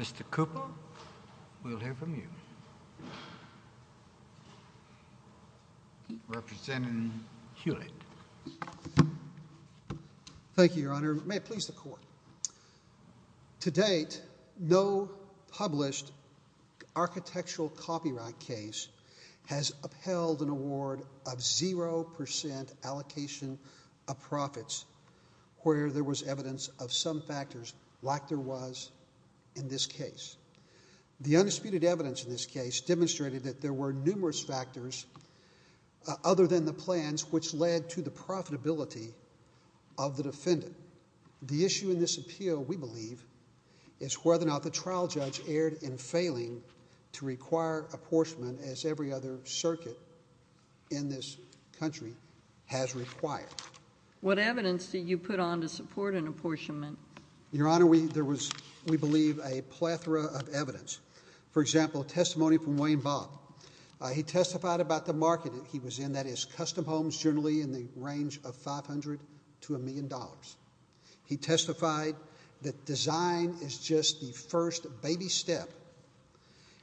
Mr. Cooper, we'll hear from you. Representative Hewlett. Thank you, Your Honor. May it please the Court. To date, no published architectural copyright case has upheld an award of 0% allocation of profits where there was evidence of some factors like there was in this case. The undisputed evidence in this case demonstrated that there were numerous factors other than the plans which led to the profitability of the defendant. The issue in this appeal, we believe, is whether or not the trial judge erred in failing to require apportionment as every other circuit in this country has required. What evidence did you put on to support an apportionment? Your Honor, there was, we believe, a plethora of evidence. For example, testimony from Wayne Bobb. He testified about the market he was in, that is, custom homes generally in the range of $500 to $1 million. He testified that design is just the first baby step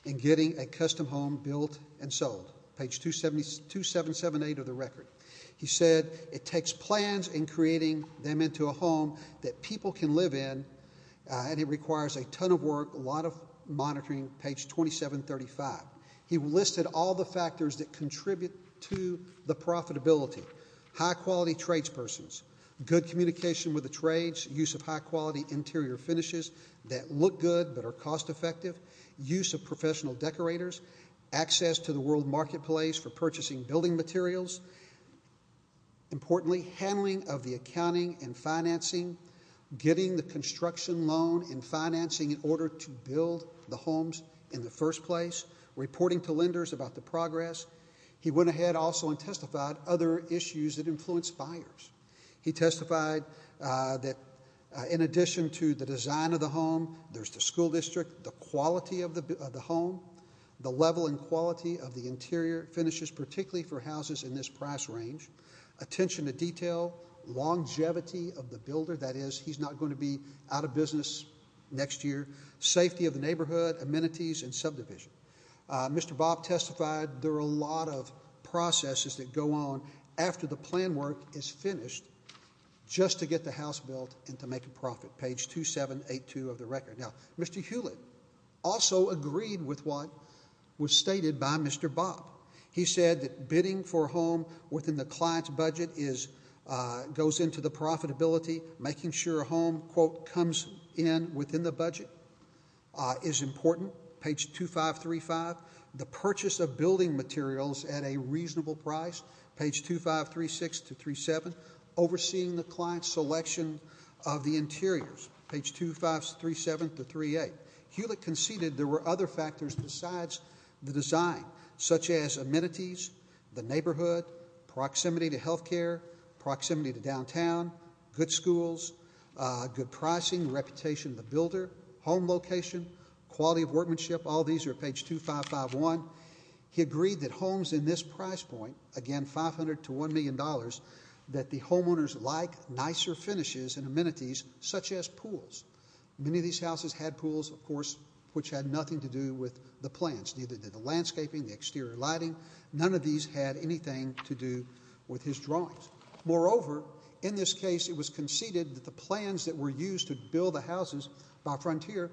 in getting a custom home built and sold. Page 2778 of the record. He said it takes plans in creating them into a home that people can live in, and it requires a ton of work, a lot of monitoring, page 2735. He listed all the factors that contribute to the profitability. High-quality tradespersons, good communication with the trades, use of high-quality interior finishes that look good but are cost-effective, use of professional decorators, access to the world marketplace for purchasing building materials. Importantly, handling of the accounting and financing, getting the construction loan and financing in order to build the homes in the first place, reporting to lenders about the progress. He went ahead also and testified other issues that influenced buyers. He testified that in addition to the design of the home, there's the school district, the quality of the home, the level and quality of the interior finishes, particularly for houses in this price range, attention to detail, longevity of the builder, that is, he's not going to be out of business next year, safety of the neighborhood, amenities, and subdivision. Mr. Bob testified there are a lot of processes that go on after the plan work is finished just to get the house built and to make a profit, page 2782 of the record. Now, Mr. Hewlett also agreed with what was stated by Mr. Bob. He said that bidding for a home within the client's budget goes into the profitability. Making sure a home, quote, comes in within the budget is important, page 2535. The purchase of building materials at a reasonable price, page 2536 to 2737, Hewlett conceded there were other factors besides the design, such as amenities, the neighborhood, proximity to health care, proximity to downtown, good schools, good pricing, reputation of the builder, home location, quality of workmanship, all these are page 2551. He agreed that homes in this price point, again, $500 to $1 million, that the homeowners like nicer finishes and amenities, such as pools. Many of these houses had pools, of course, which had nothing to do with the plans. Neither did the landscaping, the exterior lighting. None of these had anything to do with his drawings. Moreover, in this case, it was conceded that the plans that were used to build the houses by Frontier,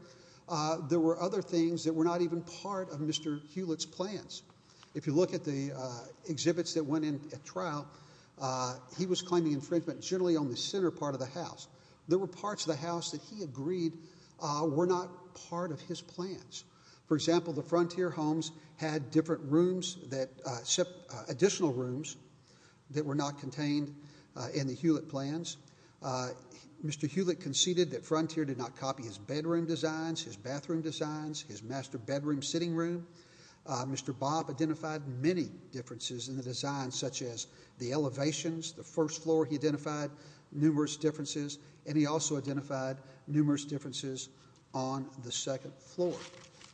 there were other things that were not even part of Mr. Hewlett's plans. If you look at the exhibits that went in at trial, he was claiming infringement generally on the center part of the house. There were parts of the house that he agreed were not part of his plans. For example, the Frontier homes had different rooms, additional rooms, that were not contained in the Hewlett plans. Mr. Hewlett conceded that Frontier did not copy his bedroom designs, his bathroom designs, his master bedroom sitting room. Mr. Bob identified many differences in the design, such as the elevations, the first floor he identified, numerous differences, and he also identified numerous differences on the second floor.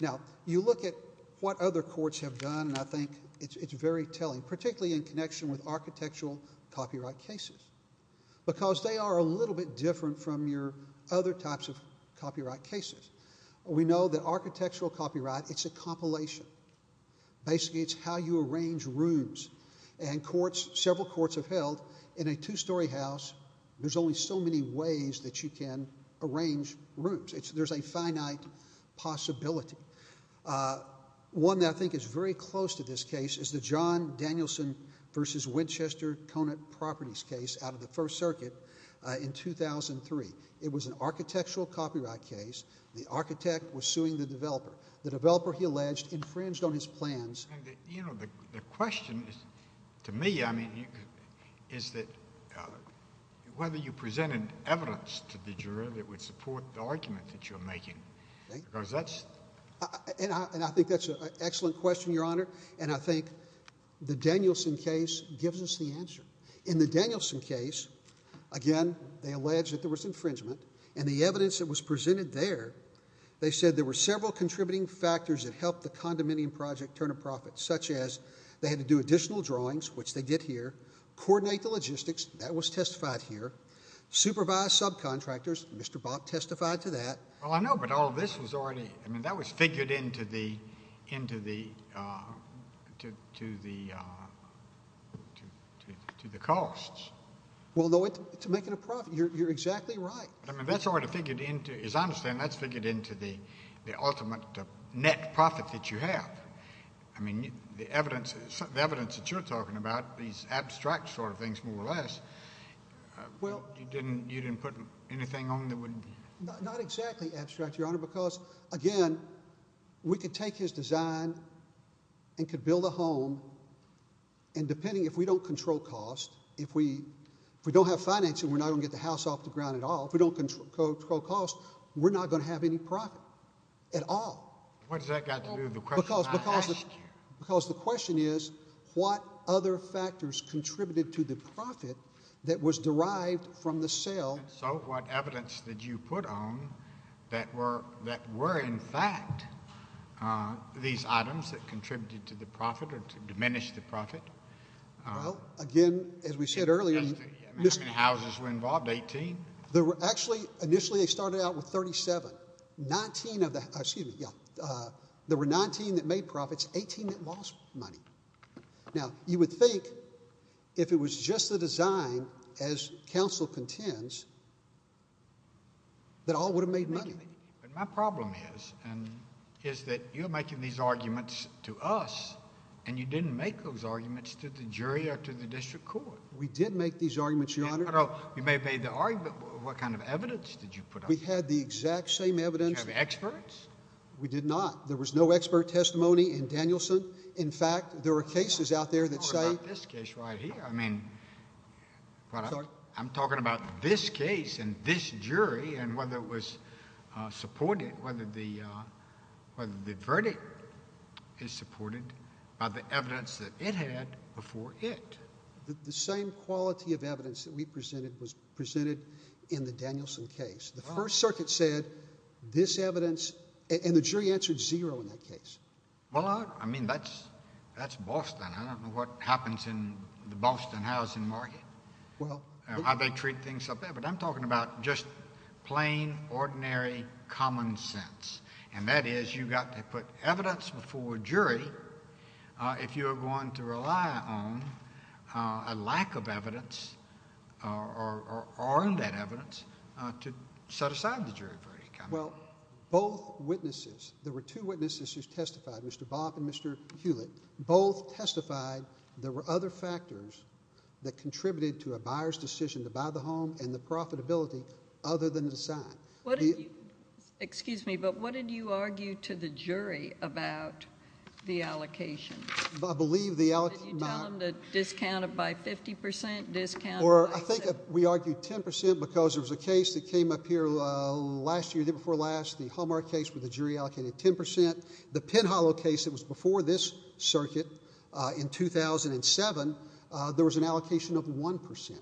Now, you look at what other courts have done, and I think it's very telling, particularly in connection with architectural copyright cases, because they are a little bit different from your other types of copyright cases. We know that architectural copyright, it's a compilation. Basically, it's how you arrange rooms, and courts, several courts have held in a two-story house, there's only so many ways that you can arrange rooms. There's a finite possibility. One that I think is very close to this case is the John Danielson v. Winchester Conant Properties case out of the First Circuit in 2003. It was an architectural copyright case. The architect was suing the developer. The developer, he alleged, infringed on his plans. You know, the question to me, I mean, is that whether you presented evidence to the juror that would support the argument that you're making. And I think that's an excellent question, Your Honor, and I think the Danielson case gives us the answer. In the Danielson case, again, they alleged that there was infringement, and the evidence that was presented there, they said there were several contributing factors that helped the condominium project turn a profit, such as they had to do additional drawings, which they did here, coordinate the logistics, that was testified here, supervise subcontractors, Mr. Bob testified to that. Well, I know, but all of this was already, I mean, that was figured into the costs. Well, no, it's making a profit. You're exactly right. I mean, that's already figured into, as I understand, that's figured into the ultimate net profit that you have. I mean, the evidence that you're talking about, these abstract sort of things more or less, you didn't put anything on that wouldn't be? Not exactly abstract, Your Honor, because, again, we could take his design and could build a home, and depending, if we don't control cost, if we don't have financing, we're not going to get the house off the ground at all. If we don't control cost, we're not going to have any profit at all. What does that got to do with the question I asked you? Because the question is what other factors contributed to the profit that was derived from the sale. So what evidence did you put on that were, in fact, these items that contributed to the profit or to diminish the profit? Well, again, as we said earlier. How many houses were involved, 18? Actually, initially they started out with 37. There were 19 that made profits, 18 that lost money. Now, you would think if it was just the design, as counsel contends, that all would have made money. But my problem is that you're making these arguments to us, and you didn't make those arguments to the jury or to the district court. We did make these arguments, Your Honor. You may have made the argument, but what kind of evidence did you put on that? We had the exact same evidence. Did you have experts? We did not. There was no expert testimony in Danielson. In fact, there were cases out there that say— I'm talking about this case right here. I'm talking about this case and this jury and whether it was supported, whether the verdict is supported by the evidence that it had before it. The same quality of evidence that we presented was presented in the Danielson case. The First Circuit said this evidence, and the jury answered zero in that case. Well, I mean, that's Boston. I don't know what happens in the Boston housing market and how they treat things up there. But I'm talking about just plain, ordinary common sense, and that is you've got to put evidence before a jury if you are going to rely on a lack of evidence or undead evidence to set aside the jury verdict. Well, both witnesses—there were two witnesses who testified, Mr. Boff and Mr. Hewlett. Both testified there were other factors that contributed to a buyer's decision to buy the home and the profitability other than the design. Excuse me, but what did you argue to the jury about the allocation? I believe the— Did you tell them to discount it by 50 percent, discount it by— Or I think we argued 10 percent because there was a case that came up here last year, the day before last, the Hallmark case, where the jury allocated 10 percent. The Pinhollow case that was before this circuit in 2007, there was an allocation of 1 percent.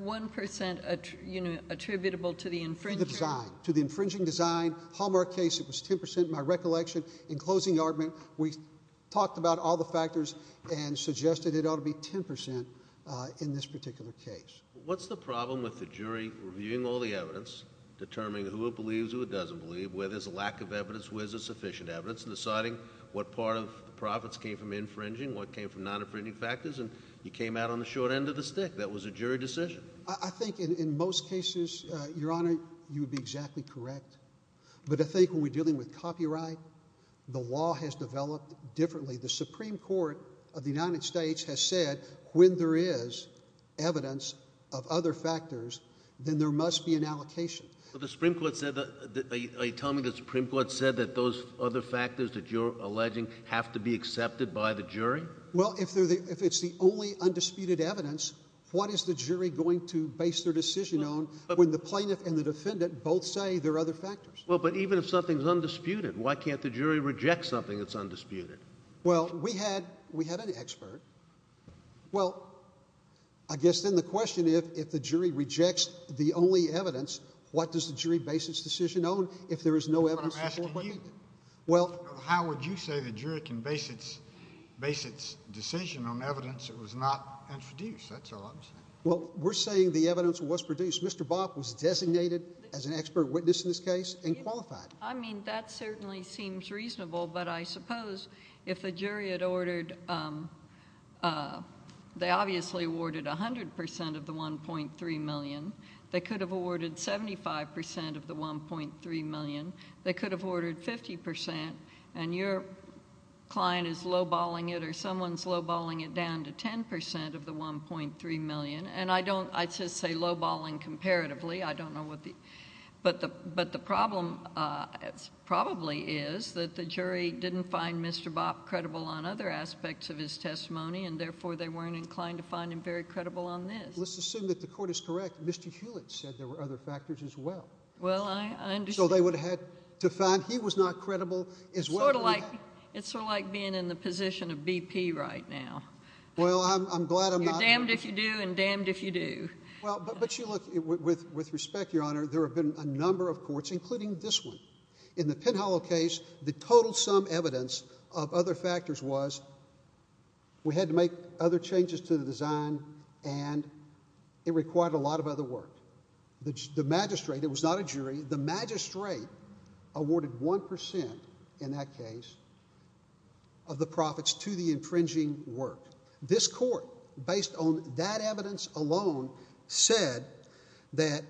1 percent attributable to the infringing— To the design, to the infringing design. Hallmark case, it was 10 percent, in my recollection. In closing argument, we talked about all the factors and suggested it ought to be 10 percent in this particular case. What's the problem with the jury reviewing all the evidence, determining who it believes, who it doesn't believe, where there's a lack of evidence, where there's sufficient evidence, and deciding what part of the profits came from infringing, what came from non-infringing factors, and you came out on the short end of the stick? That was a jury decision. I think in most cases, Your Honor, you would be exactly correct. But I think when we're dealing with copyright, the law has developed differently. The Supreme Court of the United States has said when there is evidence of other factors, then there must be an allocation. But the Supreme Court said—are you telling me the Supreme Court said that those other factors that you're alleging have to be accepted by the jury? Well, if it's the only undisputed evidence, what is the jury going to base their decision on when the plaintiff and the defendant both say there are other factors? Well, but even if something is undisputed, why can't the jury reject something that's undisputed? Well, we had an expert. Well, I guess then the question is if the jury rejects the only evidence, what does the jury base its decision on if there is no evidence that the court would meet it? How would you say the jury can base its decision on evidence that was not introduced? That's all I'm saying. Well, we're saying the evidence was produced. Mr. Bopp was designated as an expert witness in this case and qualified. I mean, that certainly seems reasonable. But I suppose if the jury had ordered—they obviously awarded 100 percent of the $1.3 million. They could have awarded 75 percent of the $1.3 million. They could have ordered 50 percent, and your client is lowballing it or someone's lowballing it down to 10 percent of the $1.3 million. And I don't—I'd just say lowballing comparatively. I don't know what the—but the problem probably is that the jury didn't find Mr. Bopp credible on other aspects of his testimony, and therefore they weren't inclined to find him very credible on this. Let's assume that the court is correct. Mr. Hewlett said there were other factors as well. Well, I understand. So they would have had to find—he was not credible as well. Sort of like—it's sort of like being in the position of BP right now. Well, I'm glad I'm not. You're damned if you do and damned if you do. Well, but you look—with respect, Your Honor, there have been a number of courts, including this one. In the Pinhollow case, the total sum evidence of other factors was we had to make other changes to the design, and it required a lot of other work. The magistrate—it was not a jury—the magistrate awarded 1 percent in that case of the profits to the infringing work. This court, based on that evidence alone, said that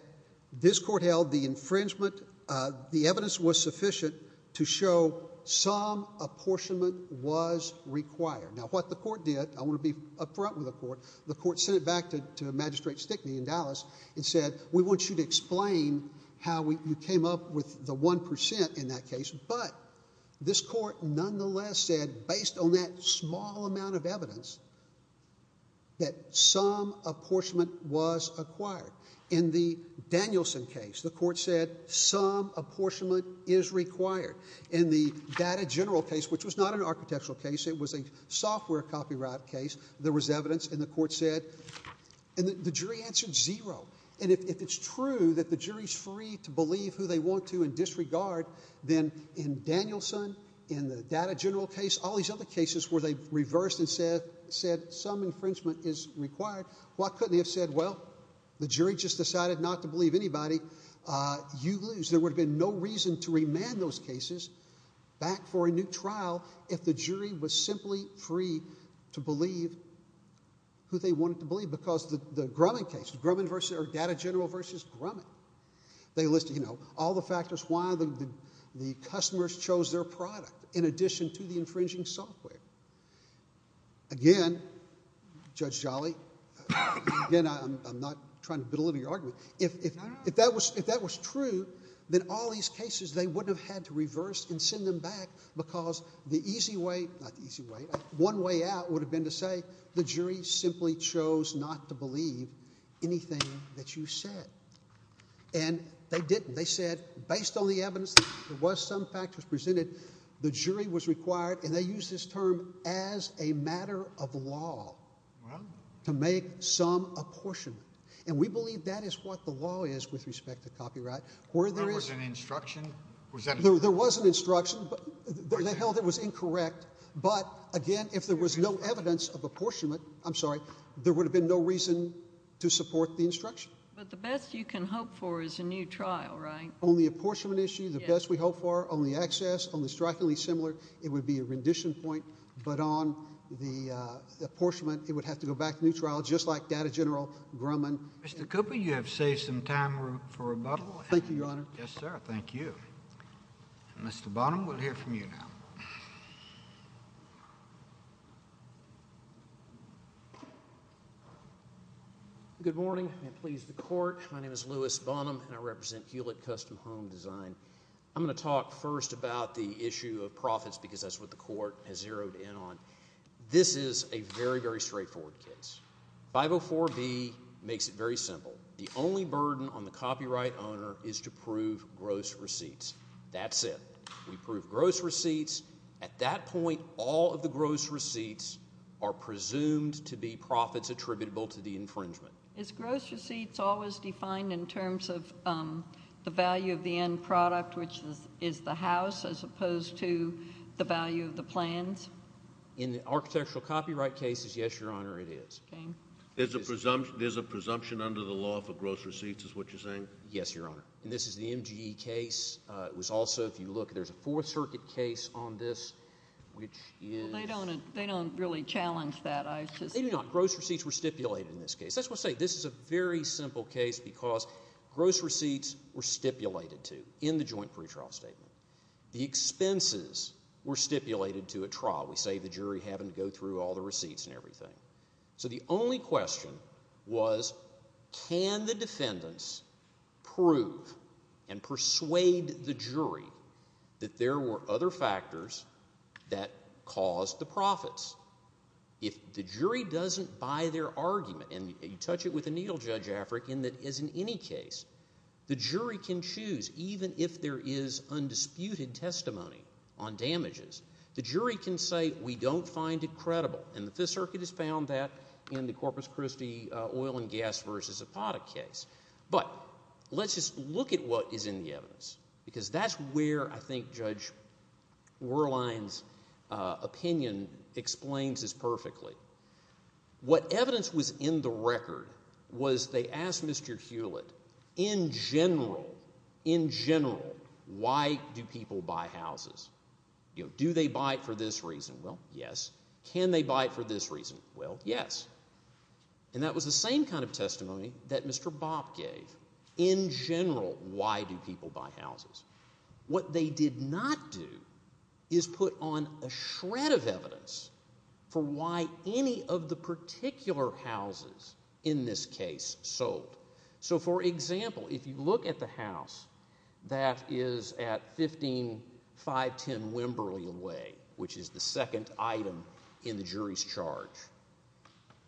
this court held the infringement—the evidence was sufficient to show some apportionment was required. Now, what the court did—I want to be up front with the court—the court sent it back to Magistrate Stickney in Dallas and said, We want you to explain how you came up with the 1 percent in that case. But this court nonetheless said, based on that small amount of evidence, that some apportionment was acquired. In the Danielson case, the court said some apportionment is required. In the Data General case, which was not an architectural case. It was a software copyright case. There was evidence, and the court said—and the jury answered zero. And if it's true that the jury's free to believe who they want to and disregard, then in Danielson, in the Data General case, all these other cases where they reversed and said some infringement is required, why couldn't they have said, Well, the jury just decided not to believe anybody. You lose. There would have been no reason to remand those cases back for a new trial if the jury was simply free to believe who they wanted to believe. Because the Grumman case—Data General v. Grumman—they listed all the factors why the customers chose their product in addition to the infringing software. Again, Judge Jolly, again, I'm not trying to belittle your argument. If that was true, then all these cases, they wouldn't have had to reverse and send them back because the easy way—not the easy way. One way out would have been to say the jury simply chose not to believe anything that you said. And they didn't. They said, based on the evidence, there was some factors presented. The jury was required, and they used this term as a matter of law, to make some apportionment. And we believe that is what the law is with respect to copyright. There was an instruction. There was an instruction. They held it was incorrect. But, again, if there was no evidence of apportionment—I'm sorry—there would have been no reason to support the instruction. But the best you can hope for is a new trial, right? Only apportionment issue, the best we hope for, only access, only strikingly similar. It would be a rendition point, but on the apportionment, it would have to go back to new trial, just like Data General Grumman. Mr. Cooper, you have saved some time for rebuttal. Thank you, Your Honor. Yes, sir. Thank you. Mr. Bonham, we'll hear from you now. Good morning. May it please the Court. My name is Louis Bonham, and I represent Hewlett Custom Home Design. I'm going to talk first about the issue of profits because that's what the Court has zeroed in on. This is a very, very straightforward case. 504B makes it very simple. The only burden on the copyright owner is to prove gross receipts. That's it. We prove gross receipts. At that point, all of the gross receipts are presumed to be profits attributable to the infringement. Is gross receipts always defined in terms of the value of the end product, which is the house, as opposed to the value of the plans? In the architectural copyright cases, yes, Your Honor, it is. Okay. There's a presumption under the law for gross receipts, is what you're saying? Yes, Your Honor. This is the MGE case. It was also, if you look, there's a Fourth Circuit case on this, which is— They don't really challenge that. They do not. Gross receipts were stipulated in this case. That's what I'm saying. This is a very simple case because gross receipts were stipulated to in the joint pretrial statement. The expenses were stipulated to at trial. We save the jury having to go through all the receipts and everything. So the only question was can the defendants prove and persuade the jury that there were other factors that caused the profits? If the jury doesn't buy their argument, and you touch it with a needle, Judge Afric, in that as in any case, the jury can choose, even if there is undisputed testimony on damages, the jury can say we don't find it credible. And the Fifth Circuit has found that in the Corpus Christi oil and gas versus apodic case. But let's just look at what is in the evidence because that's where I think Judge Werlein's opinion explains this perfectly. What evidence was in the record was they asked Mr. Hewlett in general, in general, why do people buy houses? Do they buy it for this reason? Well, yes. Can they buy it for this reason? Well, yes. And that was the same kind of testimony that Mr. Bopp gave. In general, why do people buy houses? What they did not do is put on a shred of evidence for why any of the particular houses in this case sold. So, for example, if you look at the house that is at 15510 Wimberly Way, which is the second item in the jury's charge,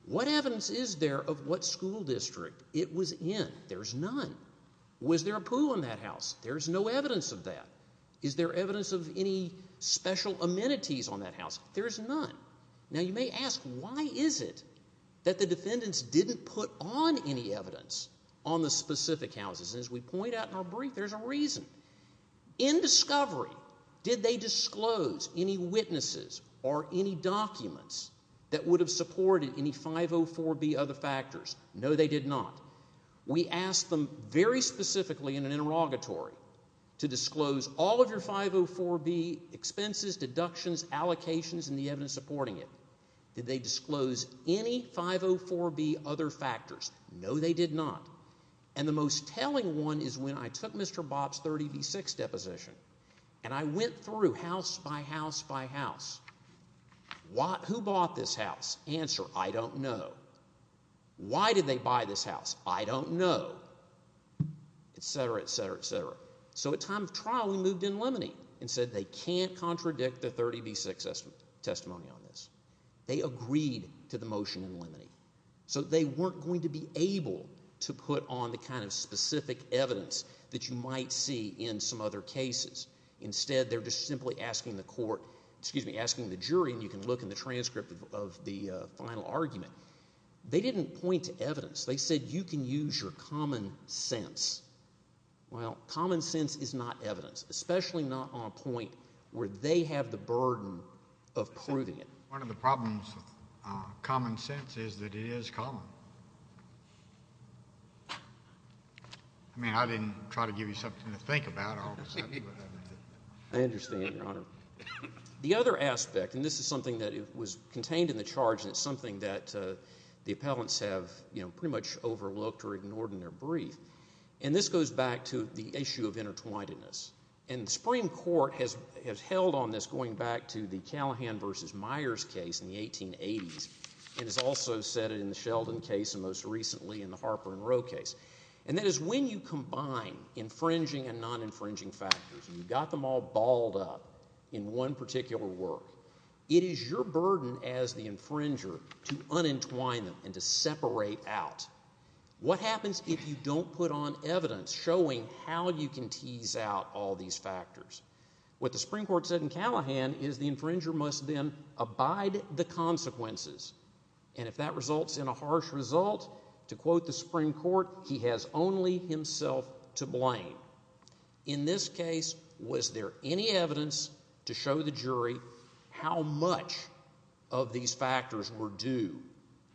what evidence is there of what school district it was in? There's none. Was there a pool in that house? There's no evidence of that. Is there evidence of any special amenities on that house? There's none. Now, you may ask, why is it that the defendants didn't put on any evidence on the specific houses? And as we point out in our brief, there's a reason. In discovery, did they disclose any witnesses or any documents that would have supported any 504B other factors? No, they did not. We asked them very specifically in an interrogatory to disclose all of your 504B expenses, deductions, allocations, and the evidence supporting it. Did they disclose any 504B other factors? No, they did not. And the most telling one is when I took Mr. Bopp's 30B6 deposition and I went through house by house by house. Who bought this house? Answer, I don't know. Why did they buy this house? I don't know, et cetera, et cetera, et cetera. So at time of trial, we moved in limine and said they can't contradict the 30B6 testimony on this. They agreed to the motion in limine. So they weren't going to be able to put on the kind of specific evidence that you might see in some other cases. Instead, they're just simply asking the court – excuse me, asking the jury, and you can look in the transcript of the final argument. They didn't point to evidence. They said you can use your common sense. Well, common sense is not evidence, especially not on a point where they have the burden of proving it. One of the problems with common sense is that it is common. I mean I didn't try to give you something to think about. I understand, Your Honor. The other aspect, and this is something that was contained in the charge, and it's something that the appellants have pretty much overlooked or ignored in their brief, and this goes back to the issue of intertwinedness. And the Supreme Court has held on this going back to the Callahan v. Myers case in the 1880s and has also said it in the Sheldon case and most recently in the Harper and Rowe case. And that is when you combine infringing and non-infringing factors, and you've got them all balled up in one particular work, it is your burden as the infringer to unentwine them and to separate out. What happens if you don't put on evidence showing how you can tease out all these factors? What the Supreme Court said in Callahan is the infringer must then abide the consequences. And if that results in a harsh result, to quote the Supreme Court, he has only himself to blame. In this case, was there any evidence to show the jury how much of these factors were due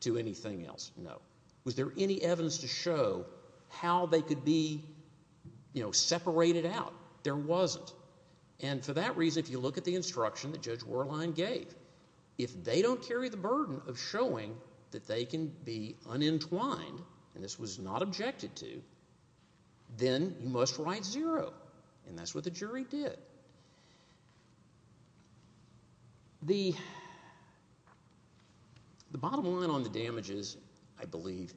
to anything else? No. Was there any evidence to show how they could be separated out? There wasn't. And for that reason, if you look at the instruction that Judge Werlein gave, if they don't carry the burden of showing that they can be unentwined, and this was not objected to, then you must write zero. And that's what the jury did. The bottom line on the damages, I believe,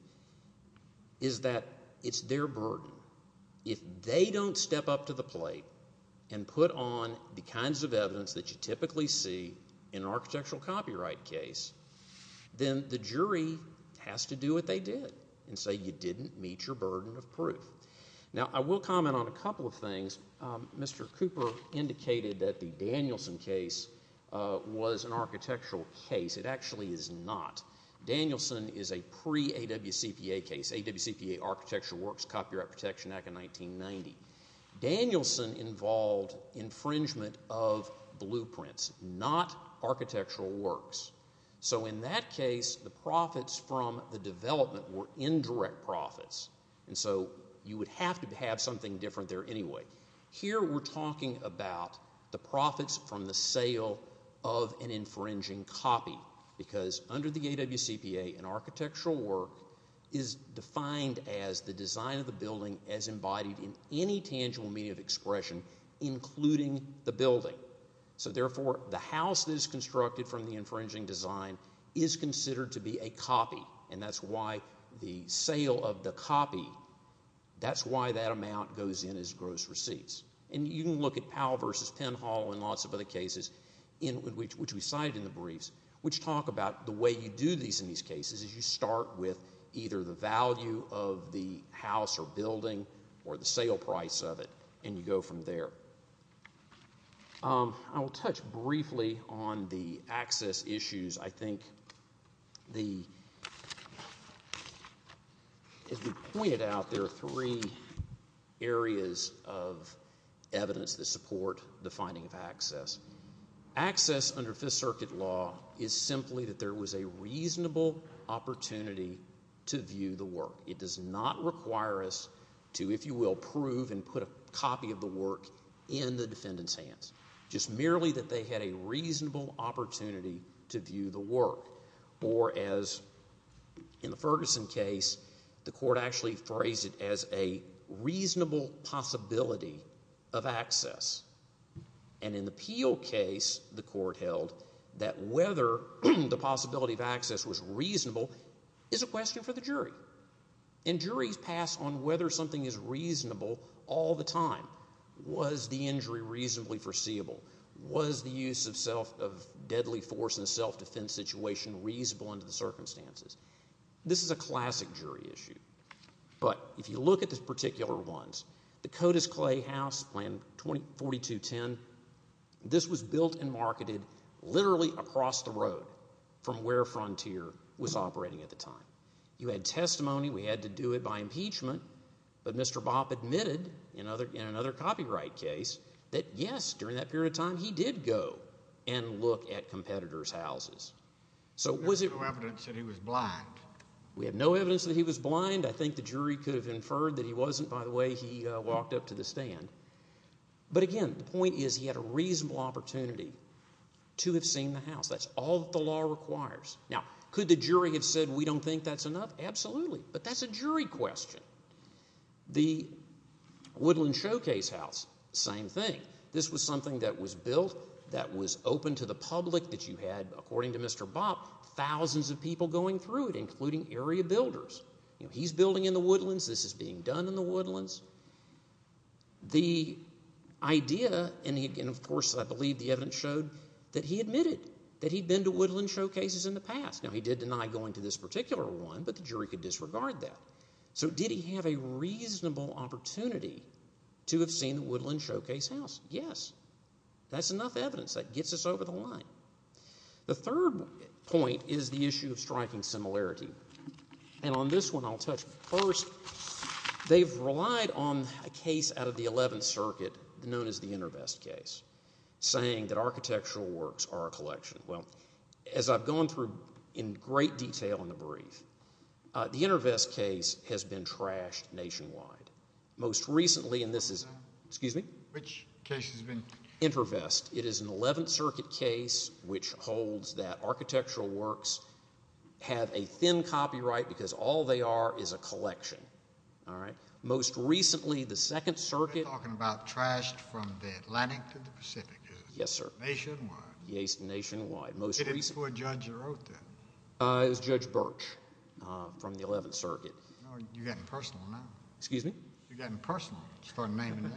is that it's their burden. If they don't step up to the plate and put on the kinds of evidence that you typically see in an architectural copyright case, then the jury has to do what they did and say you didn't meet your burden of proof. Now, I will comment on a couple of things. Mr. Cooper indicated that the Danielson case was an architectural case. It actually is not. Danielson is a pre-AWCPA case. AWCPA Architecture Works Copyright Protection Act of 1990. Danielson involved infringement of blueprints, not architectural works. So in that case, the profits from the development were indirect profits, and so you would have to have something different there anyway. Here we're talking about the profits from the sale of an infringing copy because under the AWCPA, an architectural work is defined as the design of the building as embodied in any tangible media of expression, including the building. So therefore, the house that is constructed from the infringing design is considered to be a copy, and that's why the sale of the copy, that's why that amount goes in as gross receipts. And you can look at Powell v. Penhall and lots of other cases, which we cited in the briefs, which talk about the way you do these in these cases is you start with either the value of the house or building or the sale price of it, and you go from there. I will touch briefly on the access issues. I think as we pointed out, there are three areas of evidence that support the finding of access. Access under Fifth Circuit law is simply that there was a reasonable opportunity to view the work. It does not require us to, if you will, prove and put a copy of the work in the defendant's hands, just merely that they had a reasonable opportunity to view the work. Or as in the Ferguson case, the court actually phrased it as a reasonable possibility of access. And in the Peel case, the court held that whether the possibility of access was reasonable is a question for the jury. And juries pass on whether something is reasonable all the time. Was the injury reasonably foreseeable? Was the use of deadly force in a self-defense situation reasonable under the circumstances? This is a classic jury issue. But if you look at the particular ones, the Cotus Clay House Plan 4210, this was built and marketed literally across the road from where Frontier was operating at the time. You had testimony. We had to do it by impeachment. But Mr. Bopp admitted in another copyright case that, yes, during that period of time, he did go and look at competitors' houses. So was it— There's no evidence that he was blind. We have no evidence that he was blind. I think the jury could have inferred that he wasn't by the way he walked up to the stand. But, again, the point is he had a reasonable opportunity to have seen the house. That's all that the law requires. Now, could the jury have said we don't think that's enough? Absolutely. But that's a jury question. The Woodland Showcase House, same thing. This was something that was built, that was open to the public, that you had, according to Mr. Bopp, thousands of people going through it, including area builders. He's building in the woodlands. This is being done in the woodlands. The idea—and, of course, I believe the evidence showed that he admitted that he'd been to Woodland Showcases in the past. Now, he did deny going to this particular one, but the jury could disregard that. So did he have a reasonable opportunity to have seen the Woodland Showcase House? Yes. That's enough evidence. That gets us over the line. The third point is the issue of striking similarity, and on this one I'll touch. First, they've relied on a case out of the Eleventh Circuit known as the InterVest case, saying that architectural works are a collection. Well, as I've gone through in great detail in the brief, the InterVest case has been trashed nationwide. Most recently, and this is—excuse me? Which case has been? InterVest. InterVest. It is an Eleventh Circuit case which holds that architectural works have a thin copyright because all they are is a collection. All right? Most recently, the Second Circuit— You're talking about trashed from the Atlantic to the Pacific, isn't it? Yes, sir. Nationwide. Yes, nationwide. Most recently— Is it for a judge that wrote that? It was Judge Birch from the Eleventh Circuit. You're getting personal now. Excuse me? You're getting personal. You're naming names.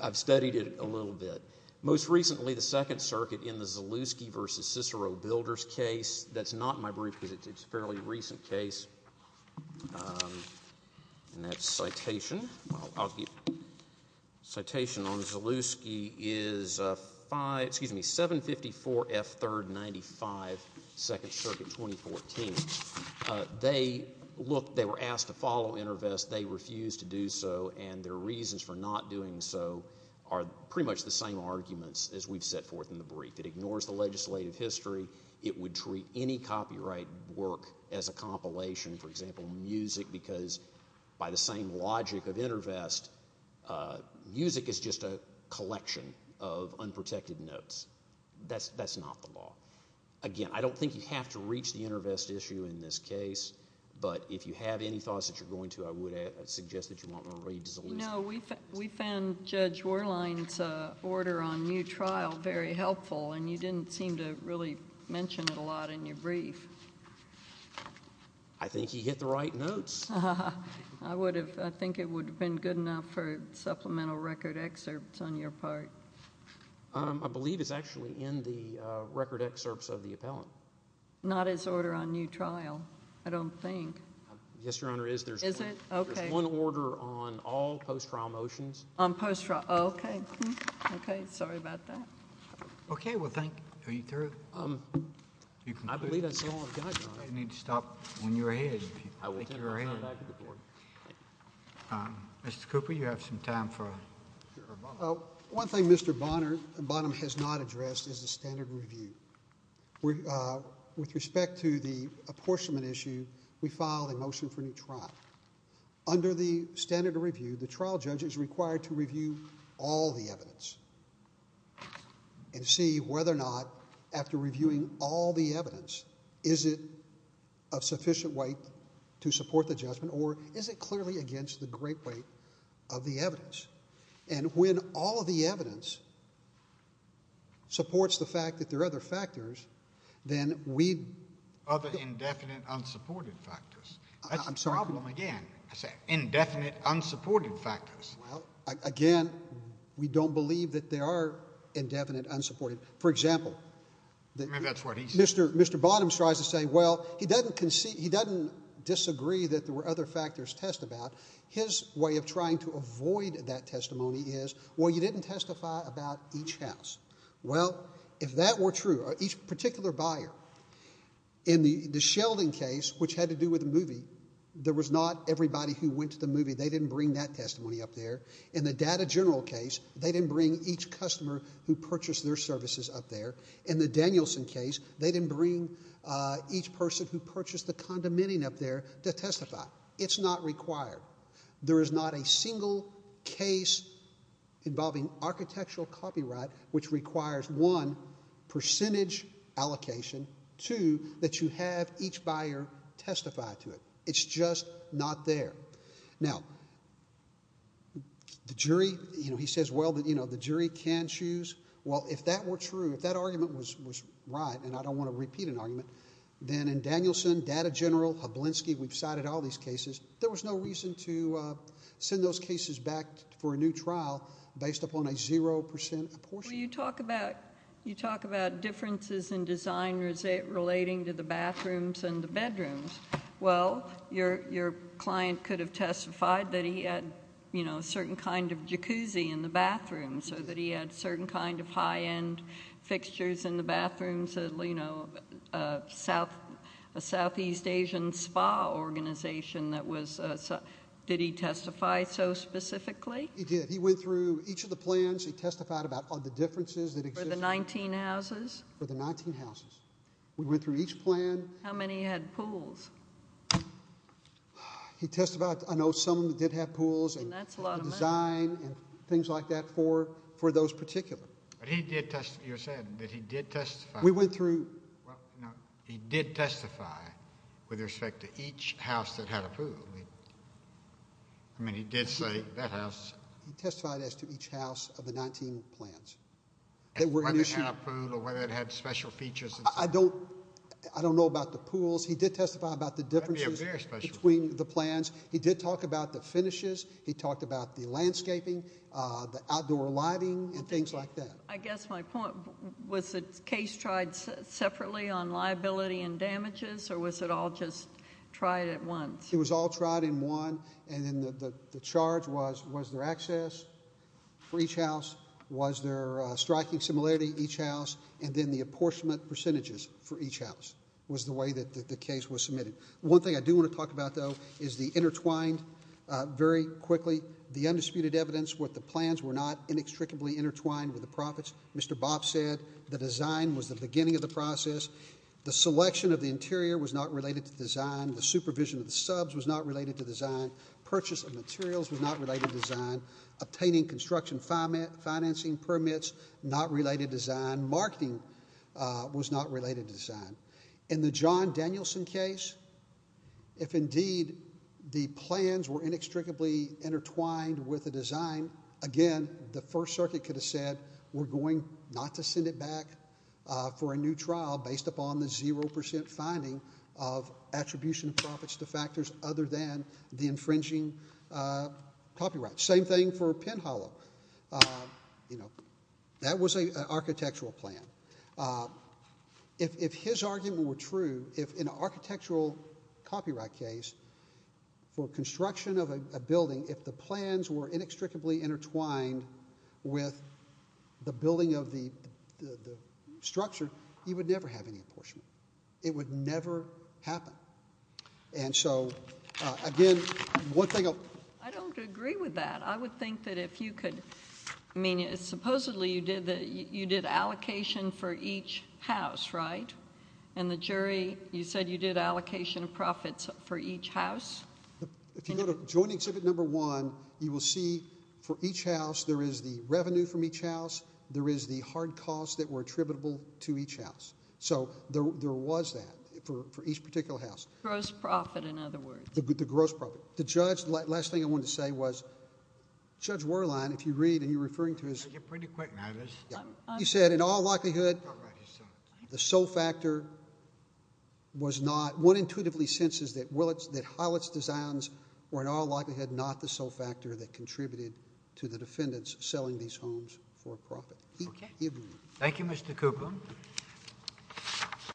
I've studied it a little bit. Most recently, the Second Circuit in the Zalewski v. Cicero Builders case. That's not in my brief because it's a fairly recent case. And that's citation. Citation on Zalewski is 754 F. 3rd, 95, Second Circuit, 2014. They looked—they were asked to follow InterVest. They refused to do so, and their reasons for not doing so are pretty much the same arguments as we've set forth in the brief. It ignores the legislative history. It would treat any copyright work as a compilation, for example, music, because by the same logic of InterVest, music is just a collection of unprotected notes. That's not the law. Again, I don't think you have to reach the InterVest issue in this case, but if you have any thoughts that you're going to, I would suggest that you want to read Zalewski. No, we found Judge Warline's order on new trial very helpful, and you didn't seem to really mention it a lot in your brief. I think he hit the right notes. I would have—I think it would have been good enough for supplemental record excerpts on your part. I believe it's actually in the record excerpts of the appellant. Not his order on new trial, I don't think. Yes, Your Honor, it is. Is it? Okay. There's one order on all post-trial motions. On post-trial—okay. Okay, sorry about that. Okay, well, thank you. Are you through? I believe that's all I've got, Your Honor. You need to stop when you're ahead. I will. Mr. Cooper, you have some time for— One thing Mr. Bonham has not addressed is the standard review. With respect to the apportionment issue, we filed a motion for new trial. Under the standard review, the trial judge is required to review all the evidence and see whether or not, after reviewing all the evidence, is it of sufficient weight to support the judgment or is it clearly against the great weight of the evidence. And when all the evidence supports the fact that there are other factors, then we— Other indefinite, unsupported factors. That's the problem again. Indefinite, unsupported factors. Well, again, we don't believe that there are indefinite, unsupported. For example— Maybe that's what he's— Mr. Bonham tries to say, well, he doesn't disagree that there were other factors to test about. His way of trying to avoid that testimony is, well, you didn't testify about each house. Well, if that were true, each particular buyer, in the Sheldon case, which had to do with the movie, there was not everybody who went to the movie. They didn't bring that testimony up there. In the Data General case, they didn't bring each customer who purchased their services up there. In the Danielson case, they didn't bring each person who purchased the condimenting up there to testify. It's not required. There is not a single case involving architectural copyright which requires, one, percentage allocation, two, that you have each buyer testify to it. It's just not there. Now, the jury—he says, well, the jury can choose. Well, if that were true, if that argument was right, and I don't want to repeat an argument, then in Danielson, Data General, Hablinski, we've cited all these cases. There was no reason to send those cases back for a new trial based upon a 0% apportionment. Well, you talk about differences in design relating to the bathrooms and the bedrooms. Well, your client could have testified that he had a certain kind of jacuzzi in the bathroom so that he had certain kind of high-end fixtures in the bathroom, so, you know, a Southeast Asian spa organization that was—did he testify so specifically? He did. He went through each of the plans. He testified about the differences that existed. For the 19 houses? For the 19 houses. We went through each plan. How many had pools? He testified—I know some of them did have pools and— And that's a lot of money. —design and things like that for those particular. But he did—you said that he did testify. We went through— Well, no, he did testify with respect to each house that had a pool. I mean, he did say that house— He testified as to each house of the 19 plans. Whether it had a pool or whether it had special features. I don't know about the pools. He did testify about the differences between the plans. He did talk about the finishes. He talked about the landscaping, the outdoor lighting, and things like that. I guess my point—was the case tried separately on liability and damages, or was it all just tried at once? It was all tried in one, and then the charge was, was there access for each house? Was there striking similarity in each house? And then the apportionment percentages for each house was the way that the case was submitted. One thing I do want to talk about, though, is the intertwined. Very quickly, the undisputed evidence with the plans were not inextricably intertwined with the profits. Mr. Bob said the design was the beginning of the process. The selection of the interior was not related to design. The supervision of the subs was not related to design. Purchase of materials was not related to design. Obtaining construction financing permits, not related to design. Marketing was not related to design. In the John Danielson case, if indeed the plans were inextricably intertwined with the design, again, the First Circuit could have said we're going not to send it back for a new trial based upon the 0% finding of attribution profits to factors other than the infringing copyright. Same thing for Penn Hollow. You know, that was an architectural plan. If his argument were true, if an architectural copyright case for construction of a building, if the plans were inextricably intertwined with the building of the structure, he would never have any apportionment. It would never happen. And so, again, one thing I'll... I don't agree with that. I would think that if you could... I mean, supposedly you did allocation for each house, right? And the jury, you said you did allocation of profits for each house? If you go to Joint Exhibit Number 1, you will see for each house, there is the revenue from each house. There is the hard costs that were attributable to each house. So, there was that for each particular house. Gross profit, in other words. The gross profit. The judge, the last thing I wanted to say was, Judge Werlein, if you read and you're referring to his... I'll get pretty quick now. He said, in all likelihood, the sole factor was not... One intuitively senses that Howlett's designs were in all likelihood not the sole factor that contributed to the defendants selling these homes for a profit. Okay. Thank you, Mr. Cooper.